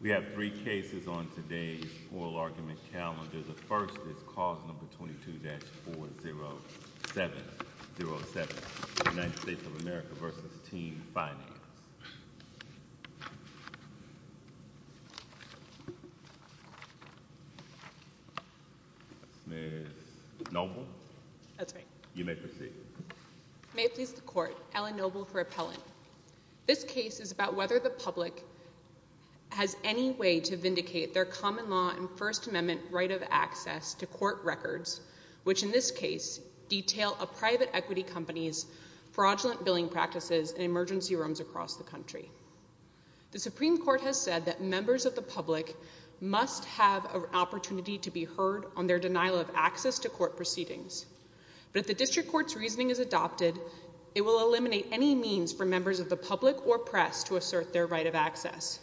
We have three cases on today's oral argument calendar. The first is cause number 22-40707, United States of America v. Team Finance. This case is about whether the public has any way to vindicate their common law and First Amendment right of access to court records, which in this case detail a private equity company's fraudulent billing practices in emergency rooms across the country. The Supreme Court has said that members of the public must have an opportunity to be heard on their denial of access to court proceedings, but if the district court's reasoning is adopted, it will eliminate any means for members of the public or press to assert their right of access.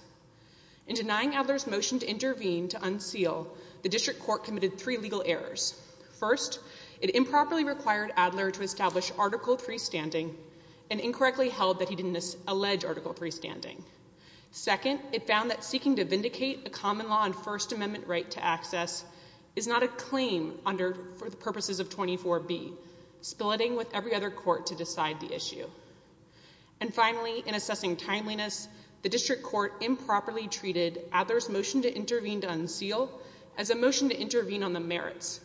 In denying Adler's motion to intervene to unseal, the district court committed three legal errors. First, it improperly required Adler to establish Article III standing and incorrectly held that he didn't allege Article III standing. Second, it found that seeking to vindicate a common law and First Amendment right to access is not a claim for the purposes of 24B, spill it in with every other court to decide the issue. And finally, in assessing timeliness, the district court improperly treated Adler's motion to intervene to unseal as a motion to intervene on the merits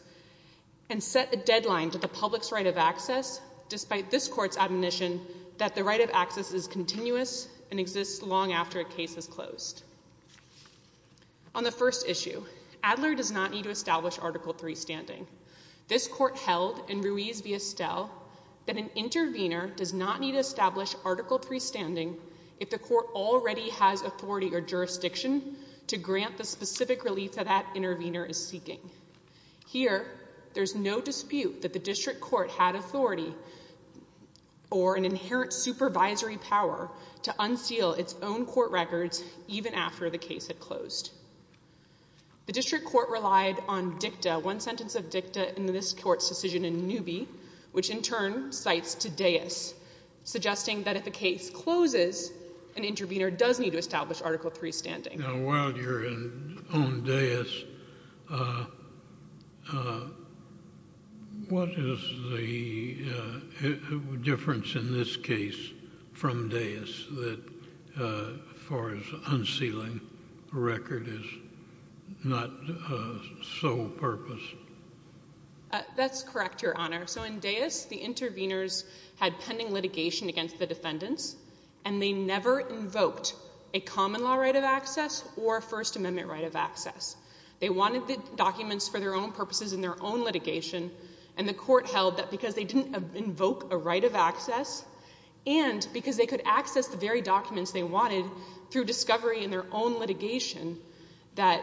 and set a deadline to the public's right of access, despite this court's recognition that the right of access is continuous and exists long after a case is closed. On the first issue, Adler does not need to establish Article III standing. This court held in Ruiz v. Estelle that an intervener does not need to establish Article III standing if the court already has authority or jurisdiction to grant the specific relief that that intervener is seeking. Here, there's no dispute that the district court had authority or an inherent supervisory power to unseal its own court records even after the case had closed. The district court relied on dicta, one sentence of dicta in this court's decision in Newby, which in turn cites Taddeus, suggesting that if a case closes, an intervener does need to unseal. What is the difference in this case from Taddeus as far as unsealing a record is not sole purpose? That's correct, Your Honor. So in Taddeus, the interveners had pending litigation against the defendants, and they never invoked a common law right of access or a First Amendment right of access. They wanted the documents for their own purposes in their own litigation, and the court held that because they didn't invoke a right of access and because they could access the very documents they wanted through discovery in their own litigation, that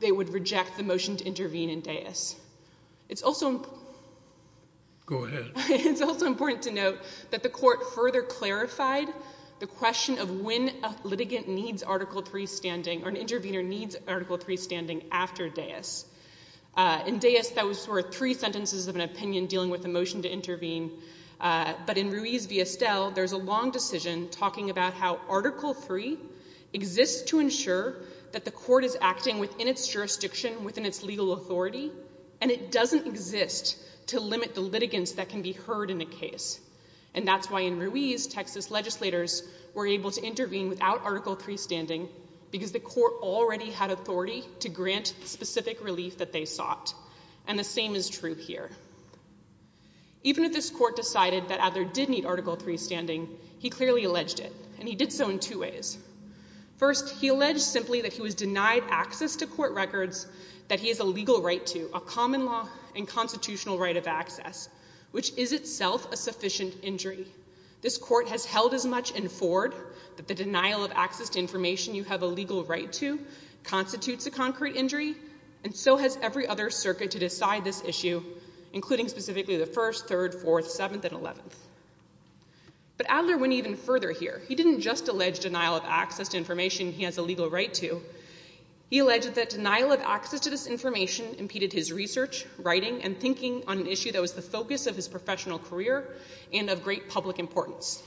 they would reject the motion to intervene in Taddeus. It's also important to note that the court further clarified the question of when a litigant needs Article III standing or an Article III standing after Taddeus. In Taddeus, those were three sentences of an opinion dealing with the motion to intervene. But in Ruiz v. Estelle, there's a long decision talking about how Article III exists to ensure that the court is acting within its jurisdiction, within its legal authority, and it doesn't exist to limit the litigants that can be heard in a case. And that's why in Ruiz, Texas legislators were able to intervene without Article III standing, because the court already had authority to grant the specific relief that they sought, and the same is true here. Even if this court decided that Adler did need Article III standing, he clearly alleged it, and he did so in two ways. First, he alleged simply that he was denied access to court records that he has a legal right to, a common law and constitutional right of access, which is itself a sufficient injury. This court has held as much in Ford that the denial of access to information you have a legal right to constitutes a concrete injury, and so has every other circuit to decide this issue, including specifically the First, Third, Fourth, Seventh, and Eleventh. But Adler went even further here. He didn't just allege denial of access to information he has a legal right to. He alleged that denial of access to this information impeded his research, writing, and thinking on an issue that was the focus of his professional career and of great public importance.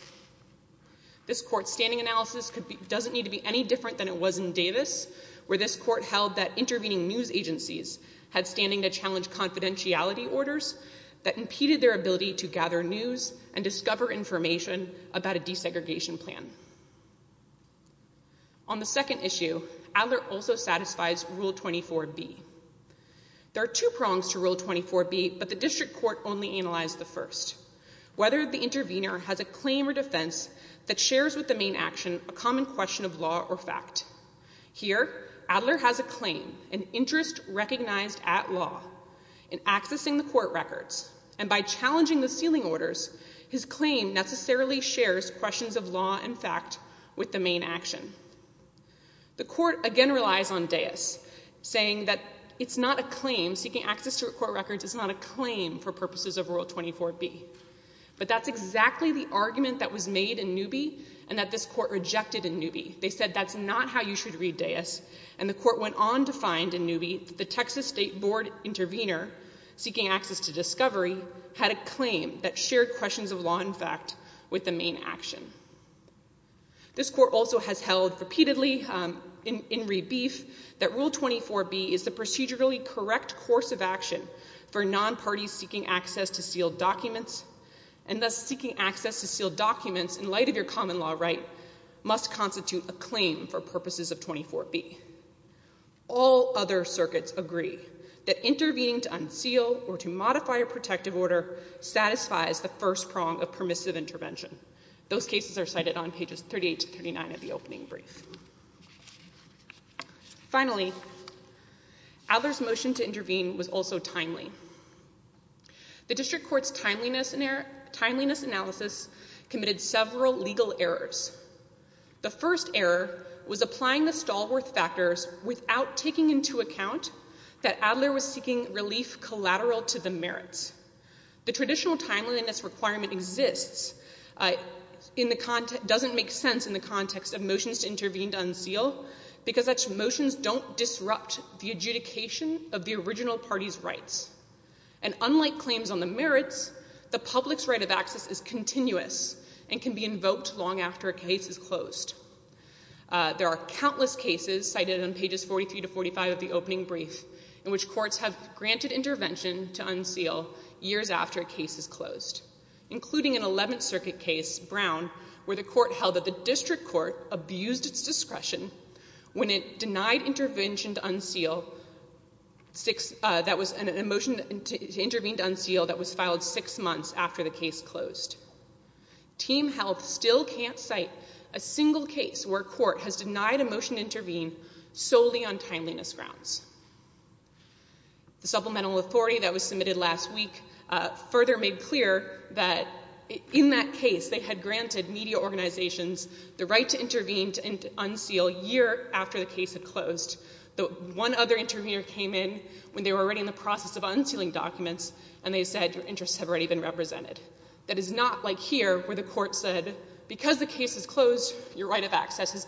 This court's standing analysis doesn't need to be any different than it was in Davis, where this court held that intervening news agencies had standing to challenge confidentiality orders that impeded their ability to gather news and discover information about a desegregation plan. On the second issue, Adler also satisfies Rule 24B. There are two prongs to Rule 24B, but the district court only analyzed the First. Whether the intervener has a claim or defense that shares with the main action a common question of law or fact. Here, Adler has a claim, an interest recognized at law, in accessing the court records, and by challenging the sealing orders, his claim necessarily shares questions of law and fact with the main action. The court again relies on Davis, saying that it's not a claim, seeking access to court records is not a claim for purposes of Rule 24B. But that's exactly the argument that was made in Newby, and that this court rejected in Newby. They said that's not how you should read Davis, and the court went on to find in Newby that the Texas State Board intervener, seeking access to discovery, had a claim that shared questions of law and fact with the main action. This court also has held repeatedly in rebeef that Rule 24B is the procedurally correct course of action for non-parties seeking access to sealed documents, and thus seeking access to sealed documents in light of your common law right must constitute a claim for purposes of 24B. All other circuits agree that intervening to unseal or to modify a Those cases are cited on pages 38 to 39 of the opening brief. Finally, Adler's motion to intervene was also timely. The district court's timeliness analysis committed several legal errors. The first error was applying the Stallworth factors without taking into account that Adler was seeking relief collateral to the merits. The traditional timeliness requirement doesn't make sense in the context of motions to intervene to unseal because such motions don't disrupt the adjudication of the original party's rights, and unlike claims on the merits, the public's right of access is continuous and can be invoked long after a case is closed. There are countless cases cited on pages 43 to 45 of the opening brief in which courts have granted intervention to unseal years after a case is closed, including an 11th Circuit case, Brown, where the court held that the district court abused its discretion when it denied intervention to unseal, that was a motion to intervene to unseal that was filed six months after the case closed. Team Health still can't cite a single case where a court has denied a motion to intervene solely on timeliness grounds. The supplemental authority that was submitted last week further made clear that in that case they had granted media organizations the right to intervene to unseal a year after the case had closed. The one other intervener came in when they were already in the process of unsealing documents and they said your interests have already been represented. That is not like here where the court said because the case is closed your right of access has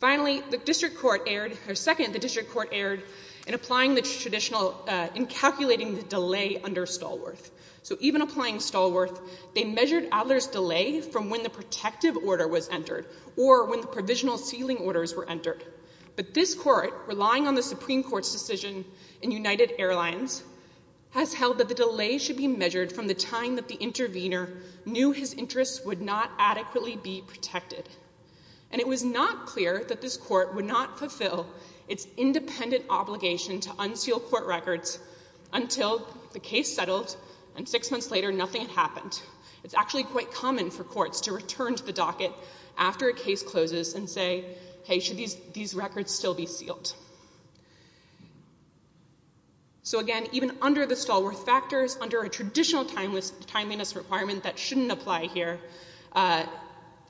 Finally, the district court erred, or second, the district court erred in applying the traditional, in calculating the delay under Stallworth. So even applying Stallworth, they measured Adler's delay from when the protective order was entered or when the provisional sealing orders were entered. But this court, relying on the Supreme Court's decision in United Airlines, has held that the delay should be measured from the time that the intervener knew his interests would not adequately be protected. And it was not clear that this court would not fulfill its independent obligation to unseal court records until the case settled and six months later nothing had happened. It's actually quite common for courts to return to the docket after a case closes and say hey should these these records still be sealed. So again, even under the Stallworth factors, under a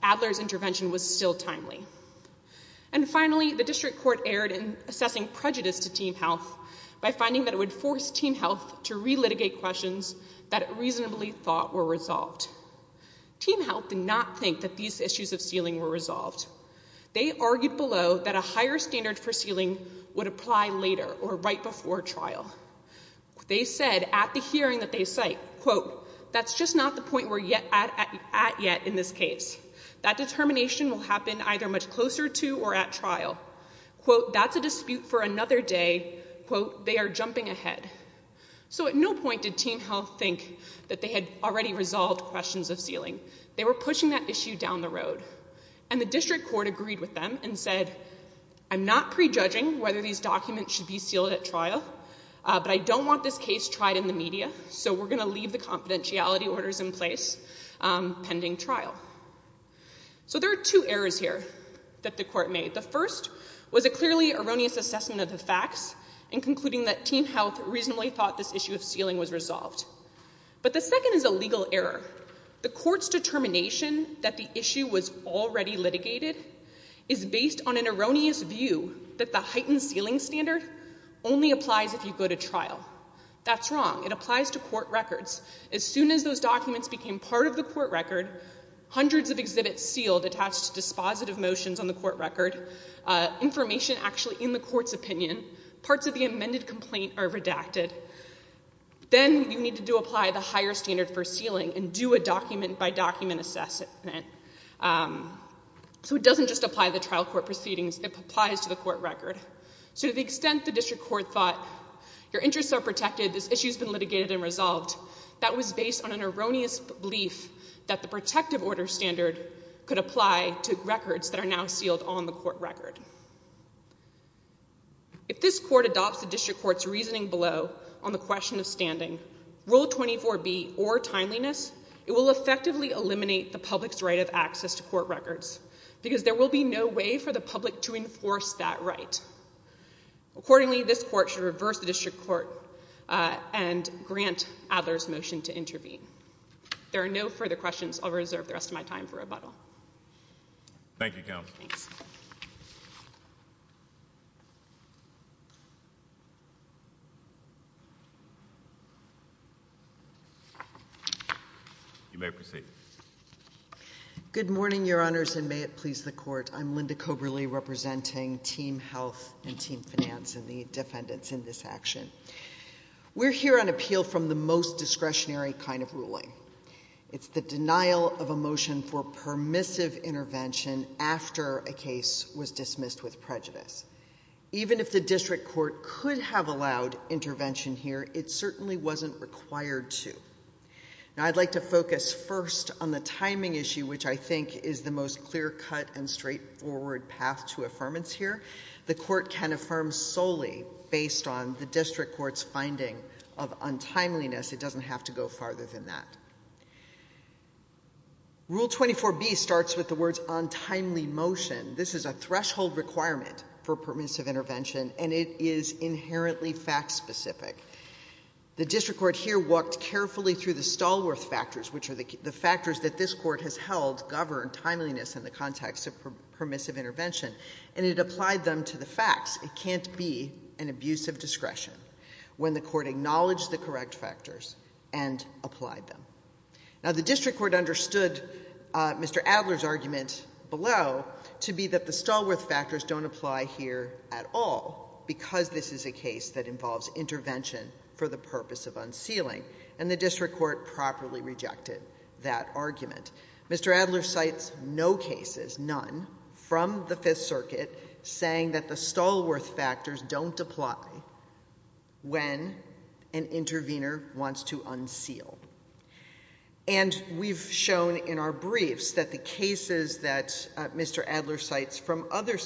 Adler's intervention was still timely. And finally, the district court erred in assessing prejudice to Team Health by finding that it would force Team Health to re-litigate questions that it reasonably thought were resolved. Team Health did not think that these issues of sealing were resolved. They argued below that a higher standard for sealing would apply later or right before trial. They said at the hearing that they cite, quote, that's just not the point we're yet at yet in this case. That determination will happen either much closer to or at trial. Quote, that's a dispute for another day, quote, they are jumping ahead. So at no point did Team Health think that they had already resolved questions of sealing. They were pushing that issue down the road. And the district court agreed with them and said, I'm not prejudging whether these documents should be sealed at trial but I don't want this case tried in the media so we're going to leave the confidentiality orders in place pending trial. So there are two errors here that the court made. The first was a clearly erroneous assessment of the facts and concluding that Team Health reasonably thought this issue of sealing was resolved. But the second is a legal error. The court's determination that the issue was already litigated is based on an erroneous view that the heightened sealing standard only It applies to court records. As soon as those documents became part of the court record, hundreds of exhibits sealed attached to dispositive motions on the court record, information actually in the court's opinion, parts of the amended complaint are redacted. Then you need to apply the higher standard for sealing and do a document-by-document assessment. So it doesn't just apply to the trial court proceedings, it applies to the court record. So to the extent the district court thought your interests are protected, this issue's been litigated and resolved, that was based on an erroneous belief that the protective order standard could apply to records that are now sealed on the court record. If this court adopts the district court's reasoning below on the question of standing, Rule 24B or timeliness, it will effectively eliminate the public's right of access to court records. Accordingly, this court should reverse the district court and grant Adler's motion to intervene. There are no further questions. I'll reserve the rest of my time for rebuttal. Thank you, counsel. You may proceed. Good morning, your honors, and may it please the court. I'm Linda Coberly representing Team Health and Team Finance and the defendants in this action. We're here on appeal from the most discretionary kind of ruling. It's the denial of a motion for permissive intervention after a case was dismissed with prejudice. Even if the district court could have allowed intervention here, it certainly wasn't required to. Now I'd like to focus first on the timing issue, which I think is the most clear-cut and straightforward path to affirmance here. The court can affirm solely based on the district court's finding of untimeliness. It doesn't have to go farther than that. Rule 24B starts with the words untimely motion. This is a threshold requirement for permissive intervention, and it is inherently fact-specific. The district court here walked carefully through the Stallworth factors, which are the factors that this court has held govern timeliness in the context of permissive intervention, and it applied them to the facts. It can't be an abuse of discretion when the court acknowledged the correct factors and applied them. Now the district court understood Mr. Adler's argument below to be that the Stallworth factors don't apply here at all because this is a case that involves intervention for the purpose of unsealing, and the district court properly rejected that argument. Mr. Adler cites no cases, none, from the Fifth Circuit saying that the Stallworth factors don't apply when an intervener wants to unseal. And we've shown in our briefs that the cases that Mr. Adler cites from other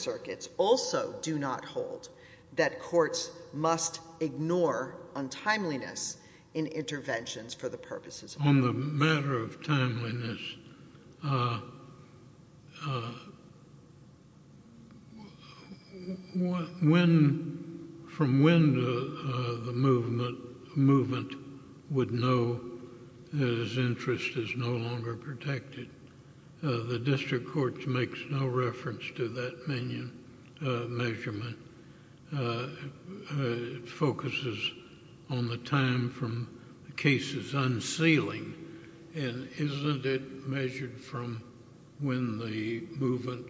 in interventions for the purposes of— On the matter of timeliness, from when the movement would know that his interest is no longer protected, the district court makes no reference to that measurement. It focuses on the time from cases unsealing, and isn't it measured from when the movement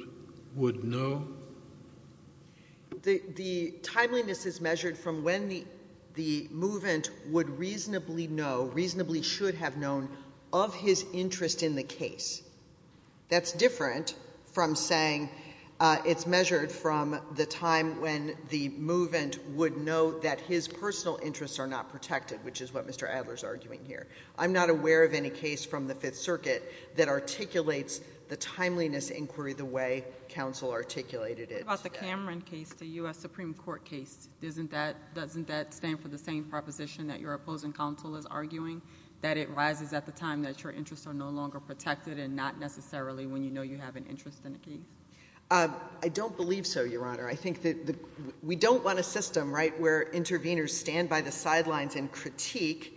would know? The timeliness is measured from when the movement would reasonably know, reasonably should have known, of his interest in the case. That's different from saying it's measured from the time when the movement would know that his personal interests are not protected, which is what Mr. Adler's arguing here. I'm not aware of any case from the Fifth Circuit that articulates the timeliness inquiry the way counsel articulated it. What about the Cameron case, the U.S. Supreme Court case? Doesn't that stand for the same proposition that your opposing counsel is arguing, that it rises at the time that your interests are no longer protected, and not necessarily when you know you have an interest in a case? I don't believe so, Your Honor. I think that we don't want a system, right, where interveners stand by the sidelines and critique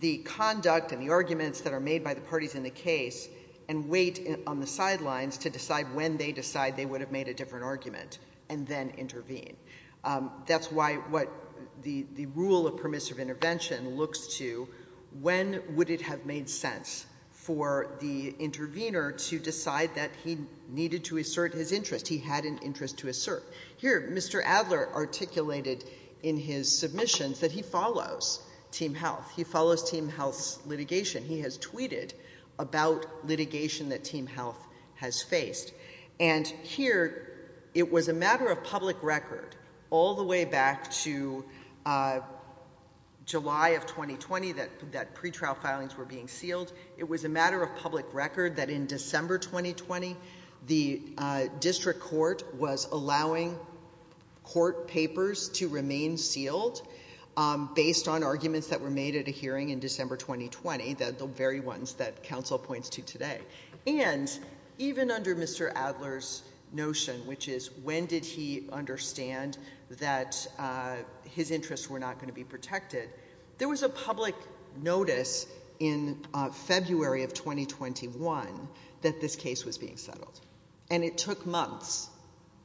the conduct and the arguments that are made by the parties in the case, and wait on the sidelines to decide when they decide they would have made a different argument, and then intervene. That's why what the rule of permissive intervention looks to, when would it have made sense for the intervener to decide that he needed to assert his interest? He had an interest to assert. Here, Mr. Adler articulated in his submissions that he follows Team Health. He follows Team Health's litigation. He has tweeted about litigation that Team Health has faced. Here, it was a matter of public record, all the way back to July of 2020, that pretrial filings were being sealed. It was a matter of public record that in December 2020, the district court was allowing court papers to remain sealed, based on arguments that were made at a hearing in December 2020, the very ones that counsel points to today. And even under Mr. Adler's notion, which is when did he understand that his interests were not going to be protected, there was a public notice in February of 2021 that this case was being settled. And it took months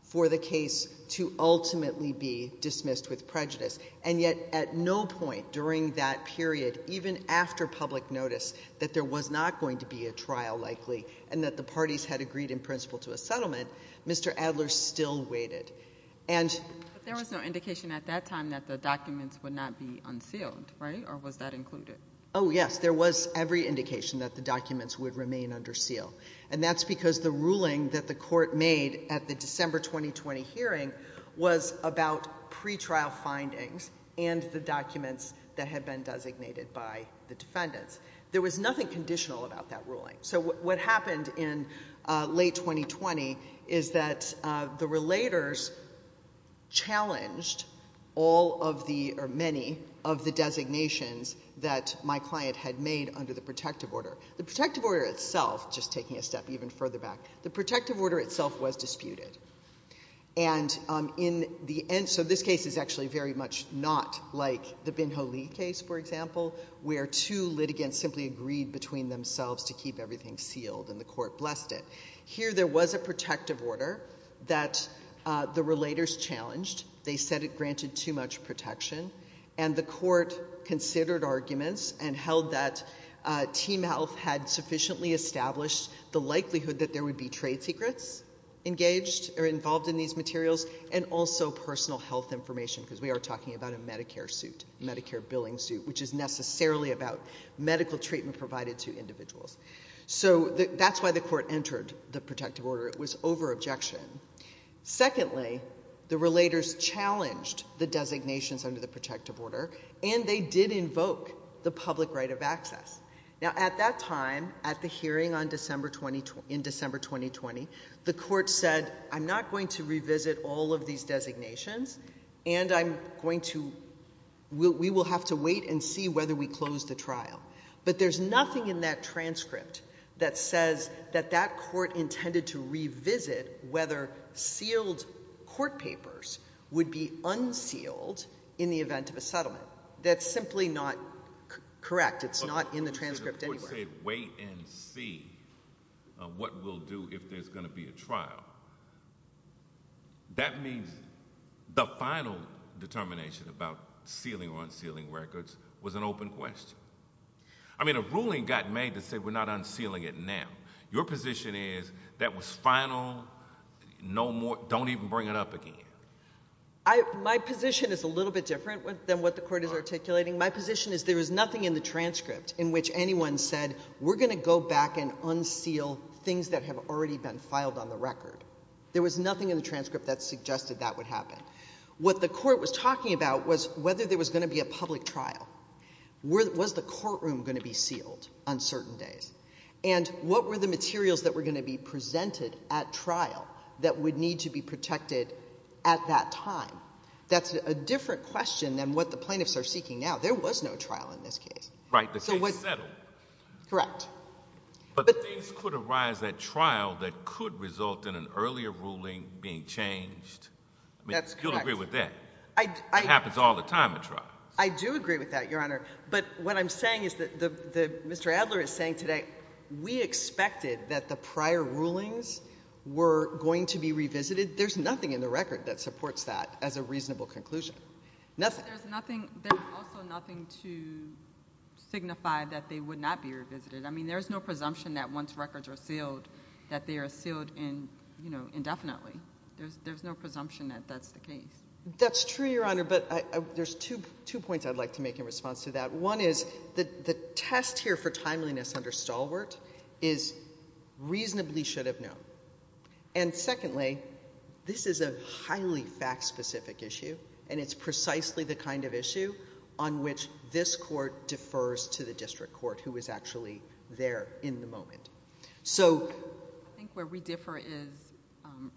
for the case to ultimately be dismissed with prejudice. And yet, at no point during that period, even after public notice, that there was not going to be a trial likely, and that the parties had agreed in principle to a settlement, Mr. Adler still waited. But there was no indication at that time that the documents would not be unsealed, right? Or was that included? Oh, yes. There was every indication that the documents would remain under seal. And that's because the ruling that the court made at the December 2020 hearing was about pretrial findings and the documents that had been designated by the ruling. So what happened in late 2020 is that the relators challenged all of the, or many, of the designations that my client had made under the protective order. The protective order itself, just taking a step even further back, the protective order itself was disputed. And in the end, so this case is actually very much not like the Binho Lee case, for example, where two litigants simply agreed between themselves to keep everything sealed, and the court blessed it. Here, there was a protective order that the relators challenged. They said it granted too much protection. And the court considered arguments and held that Team Health had sufficiently established the likelihood that there would be trade secrets engaged or involved in these materials, and also personal health information, because we are talking about a Medicare suit, Medicare billing suit, which is necessarily about medical treatment provided to individuals. So that's why the court entered the protective order. It was over objection. Secondly, the relators challenged the designations under the protective order, and they did invoke the public right of access. Now, at that time, at the hearing in December 2020, the court said, I'm not going to revisit all of these designations and I'm going to, we will have to wait and see whether we close the trial. But there's nothing in that transcript that says that that court intended to revisit whether sealed court papers would be unsealed in the event of a settlement. That's simply not correct. It's not in the transcript anywhere. Wait and see what we'll do if there's going to be a trial. That means the final determination about sealing or unsealing records was an open question. I mean, a ruling got made to say we're not unsealing it now. Your position is that was final. No more, don't even bring it up again. My position is a little bit different than what the court is articulating. My position is there is nothing in the transcript in which anyone said, we're going to go back and unseal things that have already been filed on the record. There was nothing in the transcript that suggested that would happen. What the court was talking about was whether there was going to be a public trial. Was the courtroom going to be sealed on certain days? And what were the materials that were going to be presented at trial that would need to be protected at that time? That's a different question than what the plaintiffs are seeking now. There was no trial in this case. But things could arise at trial that could result in an earlier ruling being changed. You'll agree with that. It happens all the time at trial. I do agree with that, Your Honor. But what I'm saying is that Mr. Adler is saying today, we expected that the prior rulings were going to be revisited. There's nothing in the record that supports that as a reasonable conclusion. Nothing. There's also nothing to signify that they would not be revisited. I mean, there's no presumption that once records are sealed, that they are sealed indefinitely. There's no presumption that that's the case. That's true, Your Honor. But there's two points I'd like to make in response to that. One is that the test here for timeliness under And secondly, this is a highly fact-specific issue, and it's precisely the kind of issue on which this court defers to the district court, who is actually there in the moment. I think where we differ is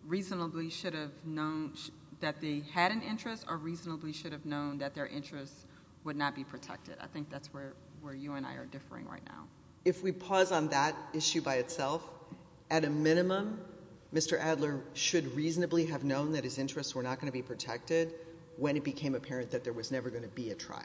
reasonably should have known that they had an interest or reasonably should have known that their interests would not be protected. I think that's where you and I are Mr. Adler should reasonably have known that his interests were not going to be protected when it became apparent that there was never going to be a trial.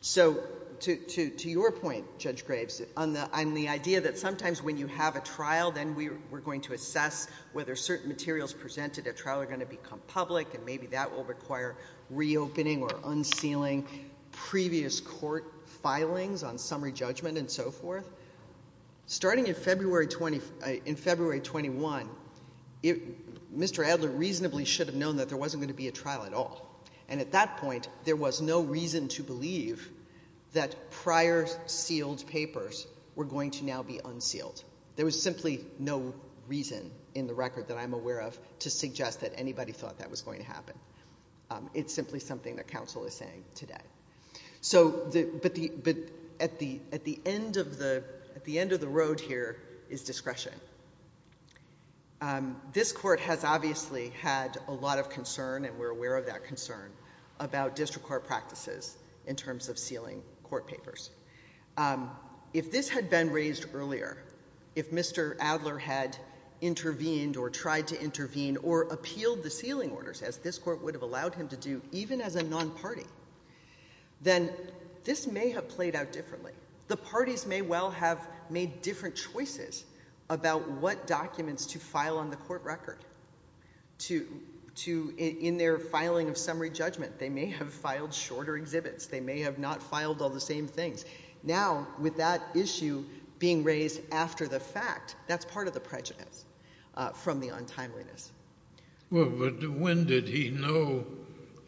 So to your point, Judge Graves, on the idea that sometimes when you have a trial, then we're going to assess whether certain materials presented at trial are going to become public, and maybe that will require reopening or unsealing previous court filings on summary judgment and so forth. Starting in February 21, Mr. Adler reasonably should have known that there wasn't going to be a trial at all. And at that point, there was no reason to believe that prior sealed papers were going to now be unsealed. There was simply no reason in the record that I'm aware of to suggest that anybody thought that was going to happen. It's simply something that counsel is saying today. So at the end of the road here is discretion. This Court has obviously had a lot of concern, and we're aware of that concern, about district court practices in terms of sealing court papers. If this had been raised earlier, if Mr. Adler had intervened or tried to intervene or appealed the sealing orders, as this Court would have allowed him to do, even as a non-party, then this may have played out differently. The parties may well have made different choices about what documents to file on the court record. In their filing of summary judgment, they may have filed shorter exhibits, they may have not filed all the same things. Now, with that issue being raised after the fact, that's part of the prejudice from the untimeliness. When did he know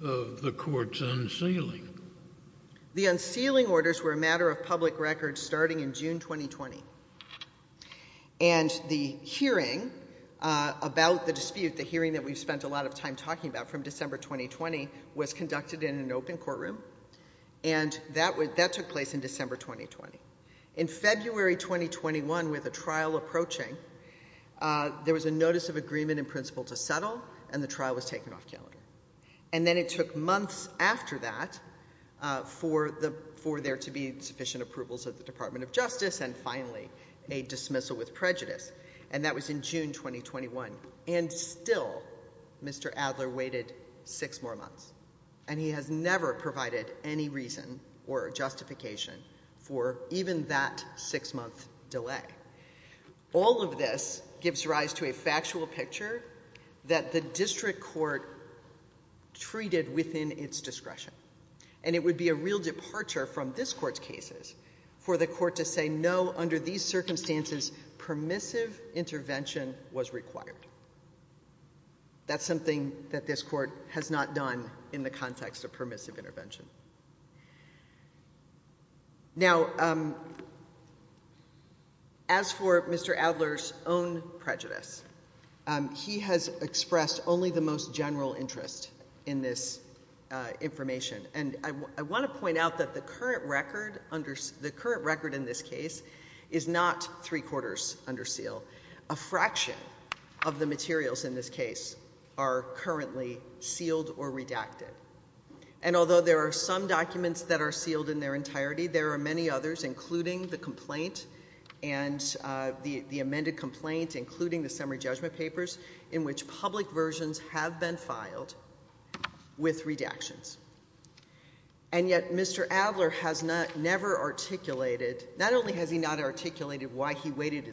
of the Court's unsealing? The unsealing orders were a matter of public record starting in June 2020. And the hearing about the dispute, the hearing that we've spent a lot of time talking about from December 2020, was conducted in an open courtroom, and that took place in December 2020. In February 2021, with a trial approaching, there was a notice of agreement in principle to settle, and the trial was taken off calendar. And then it took months after that for there to be sufficient approvals of the Department of Justice, and finally a dismissal with prejudice, and that was in June 2021. And still, Mr. Adler waited six more months, and he has never provided any reason or justification for even that six-month delay. All of this gives rise to a factual picture that the district court treated within its discretion, and it would be a real departure from this court's cases for the court to say, no, under these circumstances, permissive intervention was required. That's something that this court has not done in the context of permissive intervention. Now, as for Mr. Adler's own prejudice, he has expressed only the most general interest in this information, and I want to point out that the current record under, the current record in this case is not three-quarters under seal. A fraction of the materials in this case are sealed or redacted. And although there are some documents that are sealed in their entirety, there are many others, including the complaint and the amended complaint, including the summary judgment papers, in which public versions have been filed with redactions. And yet Mr. Adler has not, never articulated, not only has he not articulated why he waited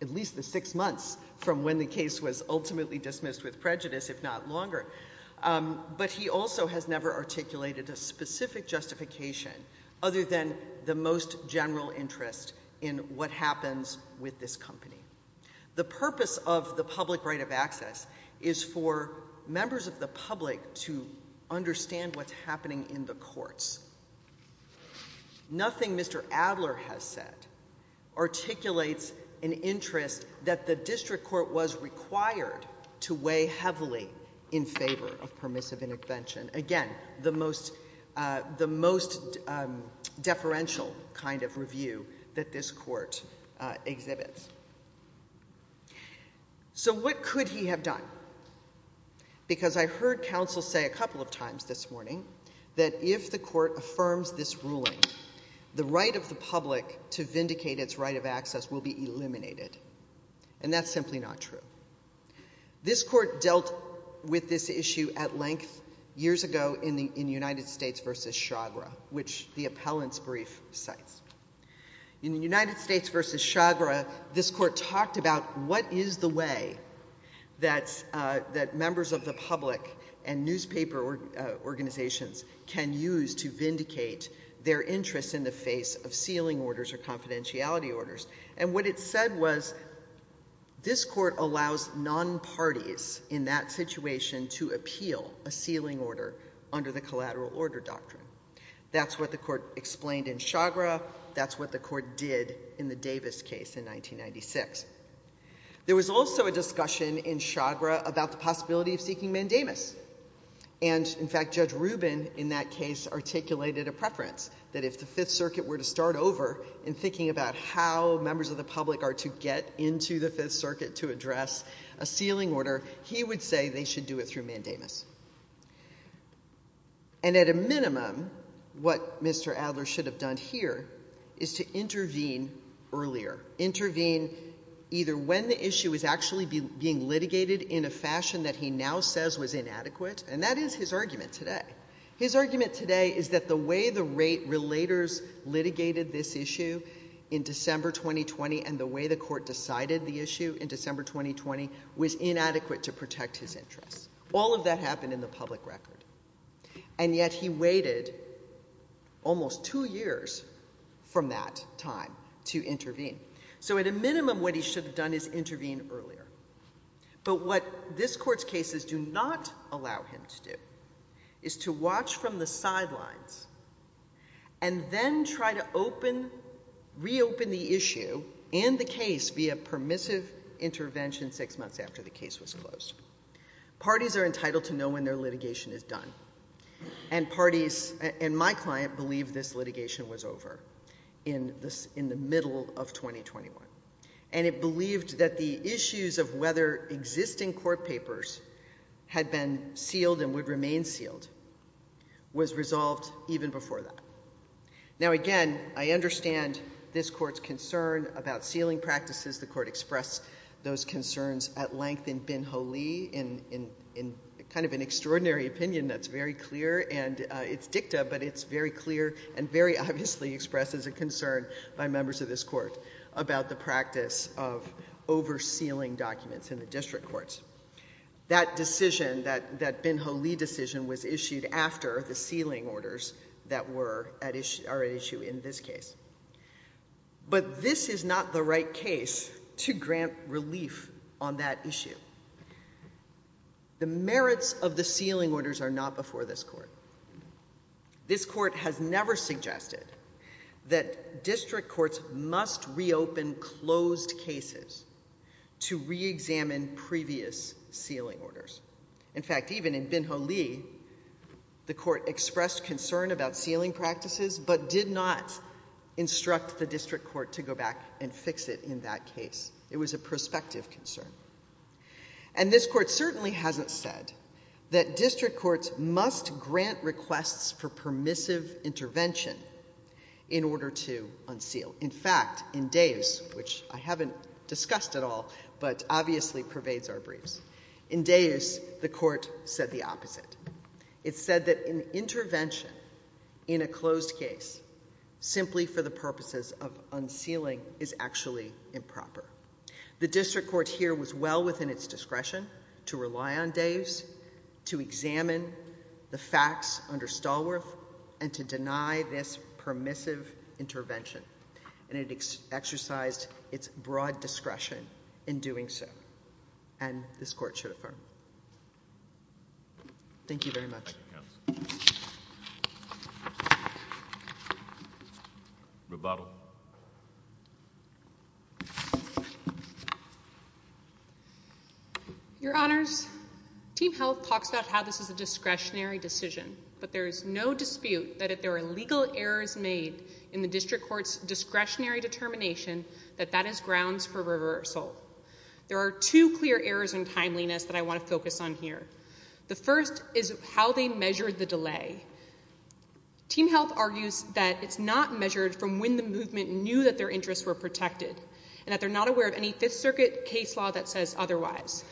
at least the six months from when the case was ultimately dismissed with prejudice, if not longer, but he also has never articulated a specific justification other than the most general interest in what happens with this company. The purpose of the public right of access is for members of the public to understand what's happening in the courts. Nothing Mr. Adler has said articulates an interest that the district court was required to weigh heavily in favor of permissive intervention. Again, the most, the most deferential kind of review that this court exhibits. So what could he have done? Because I heard counsel say a couple of times this morning that if the court affirms this ruling, the right of the public to vindicate its right of access will be eliminated. And that's simply not true. This court dealt with this issue at length years ago in the United States versus Chagra, which the appellant's brief cites. In the United States versus Chagra, this court talked about what is the way that members of the public and newspaper organizations can use to vindicate their interests in the face of sealing orders or confidentiality orders. And what it said was this court allows non-parties in that situation to appeal a sealing order under the collateral order doctrine. That's what the court explained in Chagra. That's what the court did in the United States versus Chagra. There was also a discussion in Chagra about the possibility of seeking mandamus. And in fact, Judge Rubin in that case articulated a preference that if the Fifth Circuit were to start over in thinking about how members of the public are to get into the Fifth Circuit to address a sealing order, he would say they should do it through mandamus. And at a minimum, what Mr. Adler should have done here is to intervene earlier, intervene either when the issue is actually being litigated in a fashion that he now says was inadequate, and that is his argument today. His argument today is that the way the rate-relators litigated this issue in December 2020 and the way the court decided the issue in December 2020 was inadequate to protect his interests. All of that happened in the public record. And yet he waited almost two years from that time to intervene. So at a minimum, what he should have done is intervene earlier. But what this court's cases do not allow him to do is to watch from the sidelines and then try to reopen the issue and the case via permissive intervention six months after the case was closed. Parties are entitled to know when their litigation is done. And parties and my client believe this litigation was over in the middle of 2021. And it believed that the issues of whether existing court papers had been sealed and would remain sealed was resolved even before that. Now, again, I understand this court's concern about sealing that's very clear, and it's dicta, but it's very clear and very obviously expressed as a concern by members of this court about the practice of oversealing documents in the district courts. That decision, that Ben-Holi decision, was issued after the sealing orders that were at issue in this case. But this is not the right case to grant relief on that issue. The merits of the sealing orders are not before this court. This court has never suggested that district courts must reopen closed cases to re-examine previous sealing orders. In fact, even in Ben-Holi, the court expressed concern about sealing practices but did not instruct the district court to go back and fix it in that case. It was a prospective concern. And this court certainly hasn't said that district courts must grant requests for permissive intervention in order to unseal. In fact, in Davis, which I haven't discussed at all but obviously pervades our briefs, in Davis, the court said the opposite. It said that an intervention in a closed case simply for the purposes of unsealing is actually improper. The district court here was well within its days to examine the facts under Stallworth and to deny this permissive intervention. And it exercised its broad discretion in doing so. And this court should affirm. Thank you very much. Rebuttal. Your Honors, Team Health talks about how this is a discretionary decision, but there is no dispute that if there are legal errors made in the district court's discretionary determination that that is grounds for reversal. There are two clear errors in timeliness that I want to focus on here. The first is how they measure the delay. Team Health argues that it's not measured from when the movement of the case is that their interests were protected and that they're not aware of any Fifth Circuit case law that says otherwise.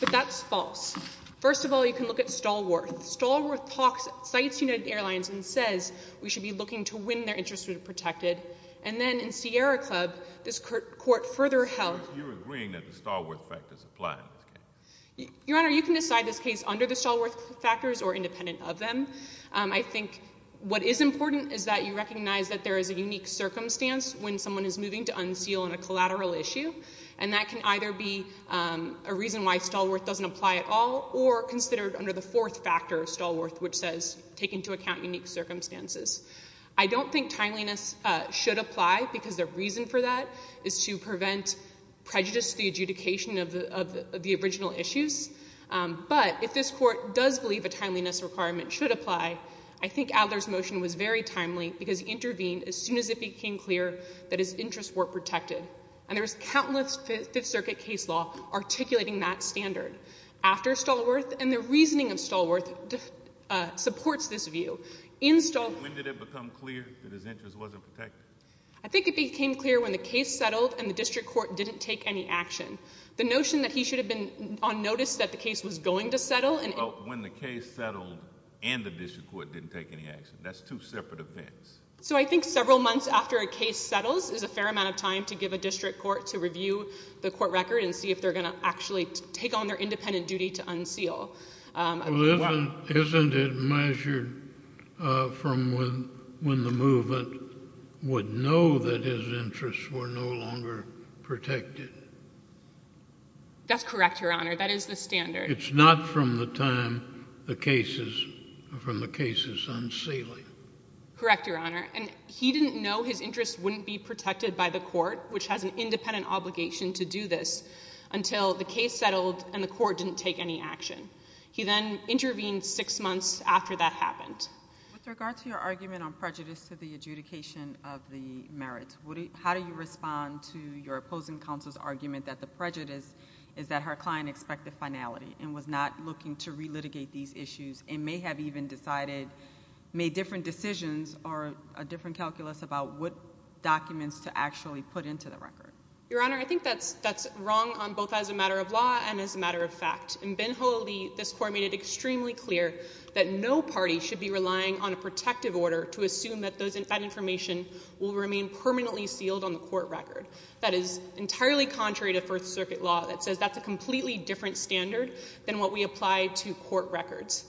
But that's false. First of all, you can look at Stallworth. Stallworth talks, cites United Airlines and says we should be looking to when their interests were protected. And then in Sierra Club, this court further held. Your Honor, you can decide this case under the Stallworth factors or independent of them. I think what is important is that you recognize that there is a unique circumstance when someone is moving to unseal on a collateral issue. And that can either be a reason why Stallworth doesn't apply at all or considered under the fourth factor of Stallworth, which says take into account unique circumstances. I don't think timeliness should apply because the reason for that is to prevent prejudice to the adjudication of the original issues. But if this court does believe a timeliness requirement should apply, I think Adler's motion was very timely because he intervened as soon as it became clear that his interests were protected. And there was countless Fifth Circuit case law articulating that standard after Stallworth. And the reasoning of Stallworth supports this view. When did it become clear that his interest wasn't protected? I think it became clear when the case settled and the district court didn't take any action. The notion that he should have been on notice that the case was going to settle. When the case settled and the district court didn't take any action. That's two separate events. So I think several months after a case settles is a fair amount of time to give a district court to review the court record and see if they're going to actually take on their independent duty to unseal. Isn't it measured from when the movement would know that his interests were no longer protected? That's correct, your honor. That is the standard. It's not from the time the case is from the case is unsealing. Correct, your honor. And he didn't know his interests wouldn't be protected by the court, which has an independent obligation to do this until the case settled and the court didn't take any action. He then intervened six months after that happened. With regard to your argument on prejudice to the adjudication of the merit, how do you respond to your opposing counsel's argument that the prejudice is that her client expected finality and was not looking to re-litigate these issues and may have even decided, made different decisions or a different calculus about what documents to actually put into the record? Your honor, I think that's that's wrong on both as a matter of law and as a matter of fact. In Benholly, this court made it extremely clear that no party should be relying on a protective order to assume that that information will remain permanently sealed on the court record. That is entirely contrary to First Circuit law that says that's a completely different standard than what we apply to court records.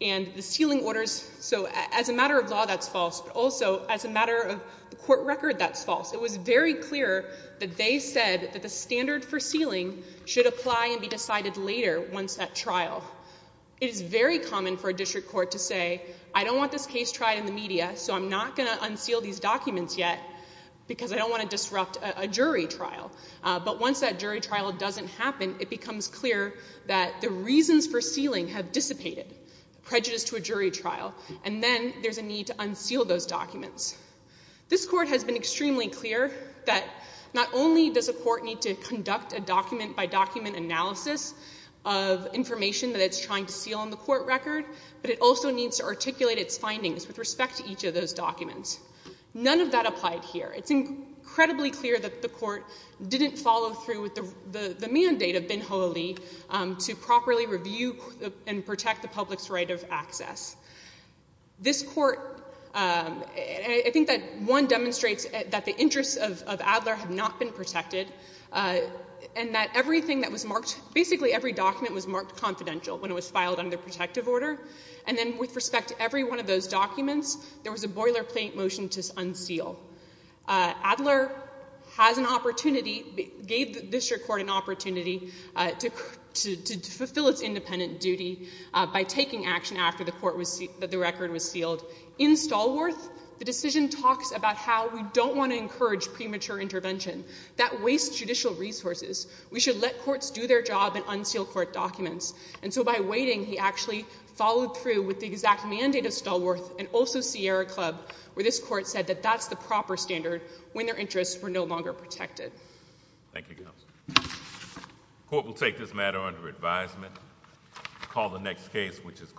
And the sealing orders, so as a matter of law, that's false, but also as a matter of the court record, that's false. It was very clear that they said that the standard for sealing should apply and be decided later once at trial. It is very common for a district court to say, I don't want this case tried in the media, so I'm not going to unseal these documents yet because I don't want to disrupt a jury trial. But once that jury trial doesn't happen, it becomes clear that the reasons for sealing have dissipated, prejudice to a jury trial, and then there's a need to unseal those documents. This court has been extremely clear that not only does a court need to conduct a document-by-document analysis of information that it's trying to seal on the court record, but it also needs to articulate its findings with respect to each of those documents. None of that applied here. It's incredibly clear that the court didn't follow through with the mandate of Ben Ho'oli to properly review and protect the public's right of access. This court, I think that one demonstrates that the interests of Adler have not been protected and that everything that was marked, basically every document was marked confidential when it was filed under protective order. And then with respect to every one of those documents, there was a boilerplate motion to unseal. Adler has an opportunity, gave the district court an opportunity to fulfill its independent duty by taking action after the court was, the record was sealed. In Stallworth, the decision talks about how we don't want to encourage premature intervention. That wastes judicial resources. We should let courts do their job and unseal court documents. And so by waiting, he actually followed through with the exact mandate of Stallworth and also Sierra Club, where this court said that that's the proper standard when their interests were no longer protected. Thank you. Court will take this matter under advisement. Call the next case, which is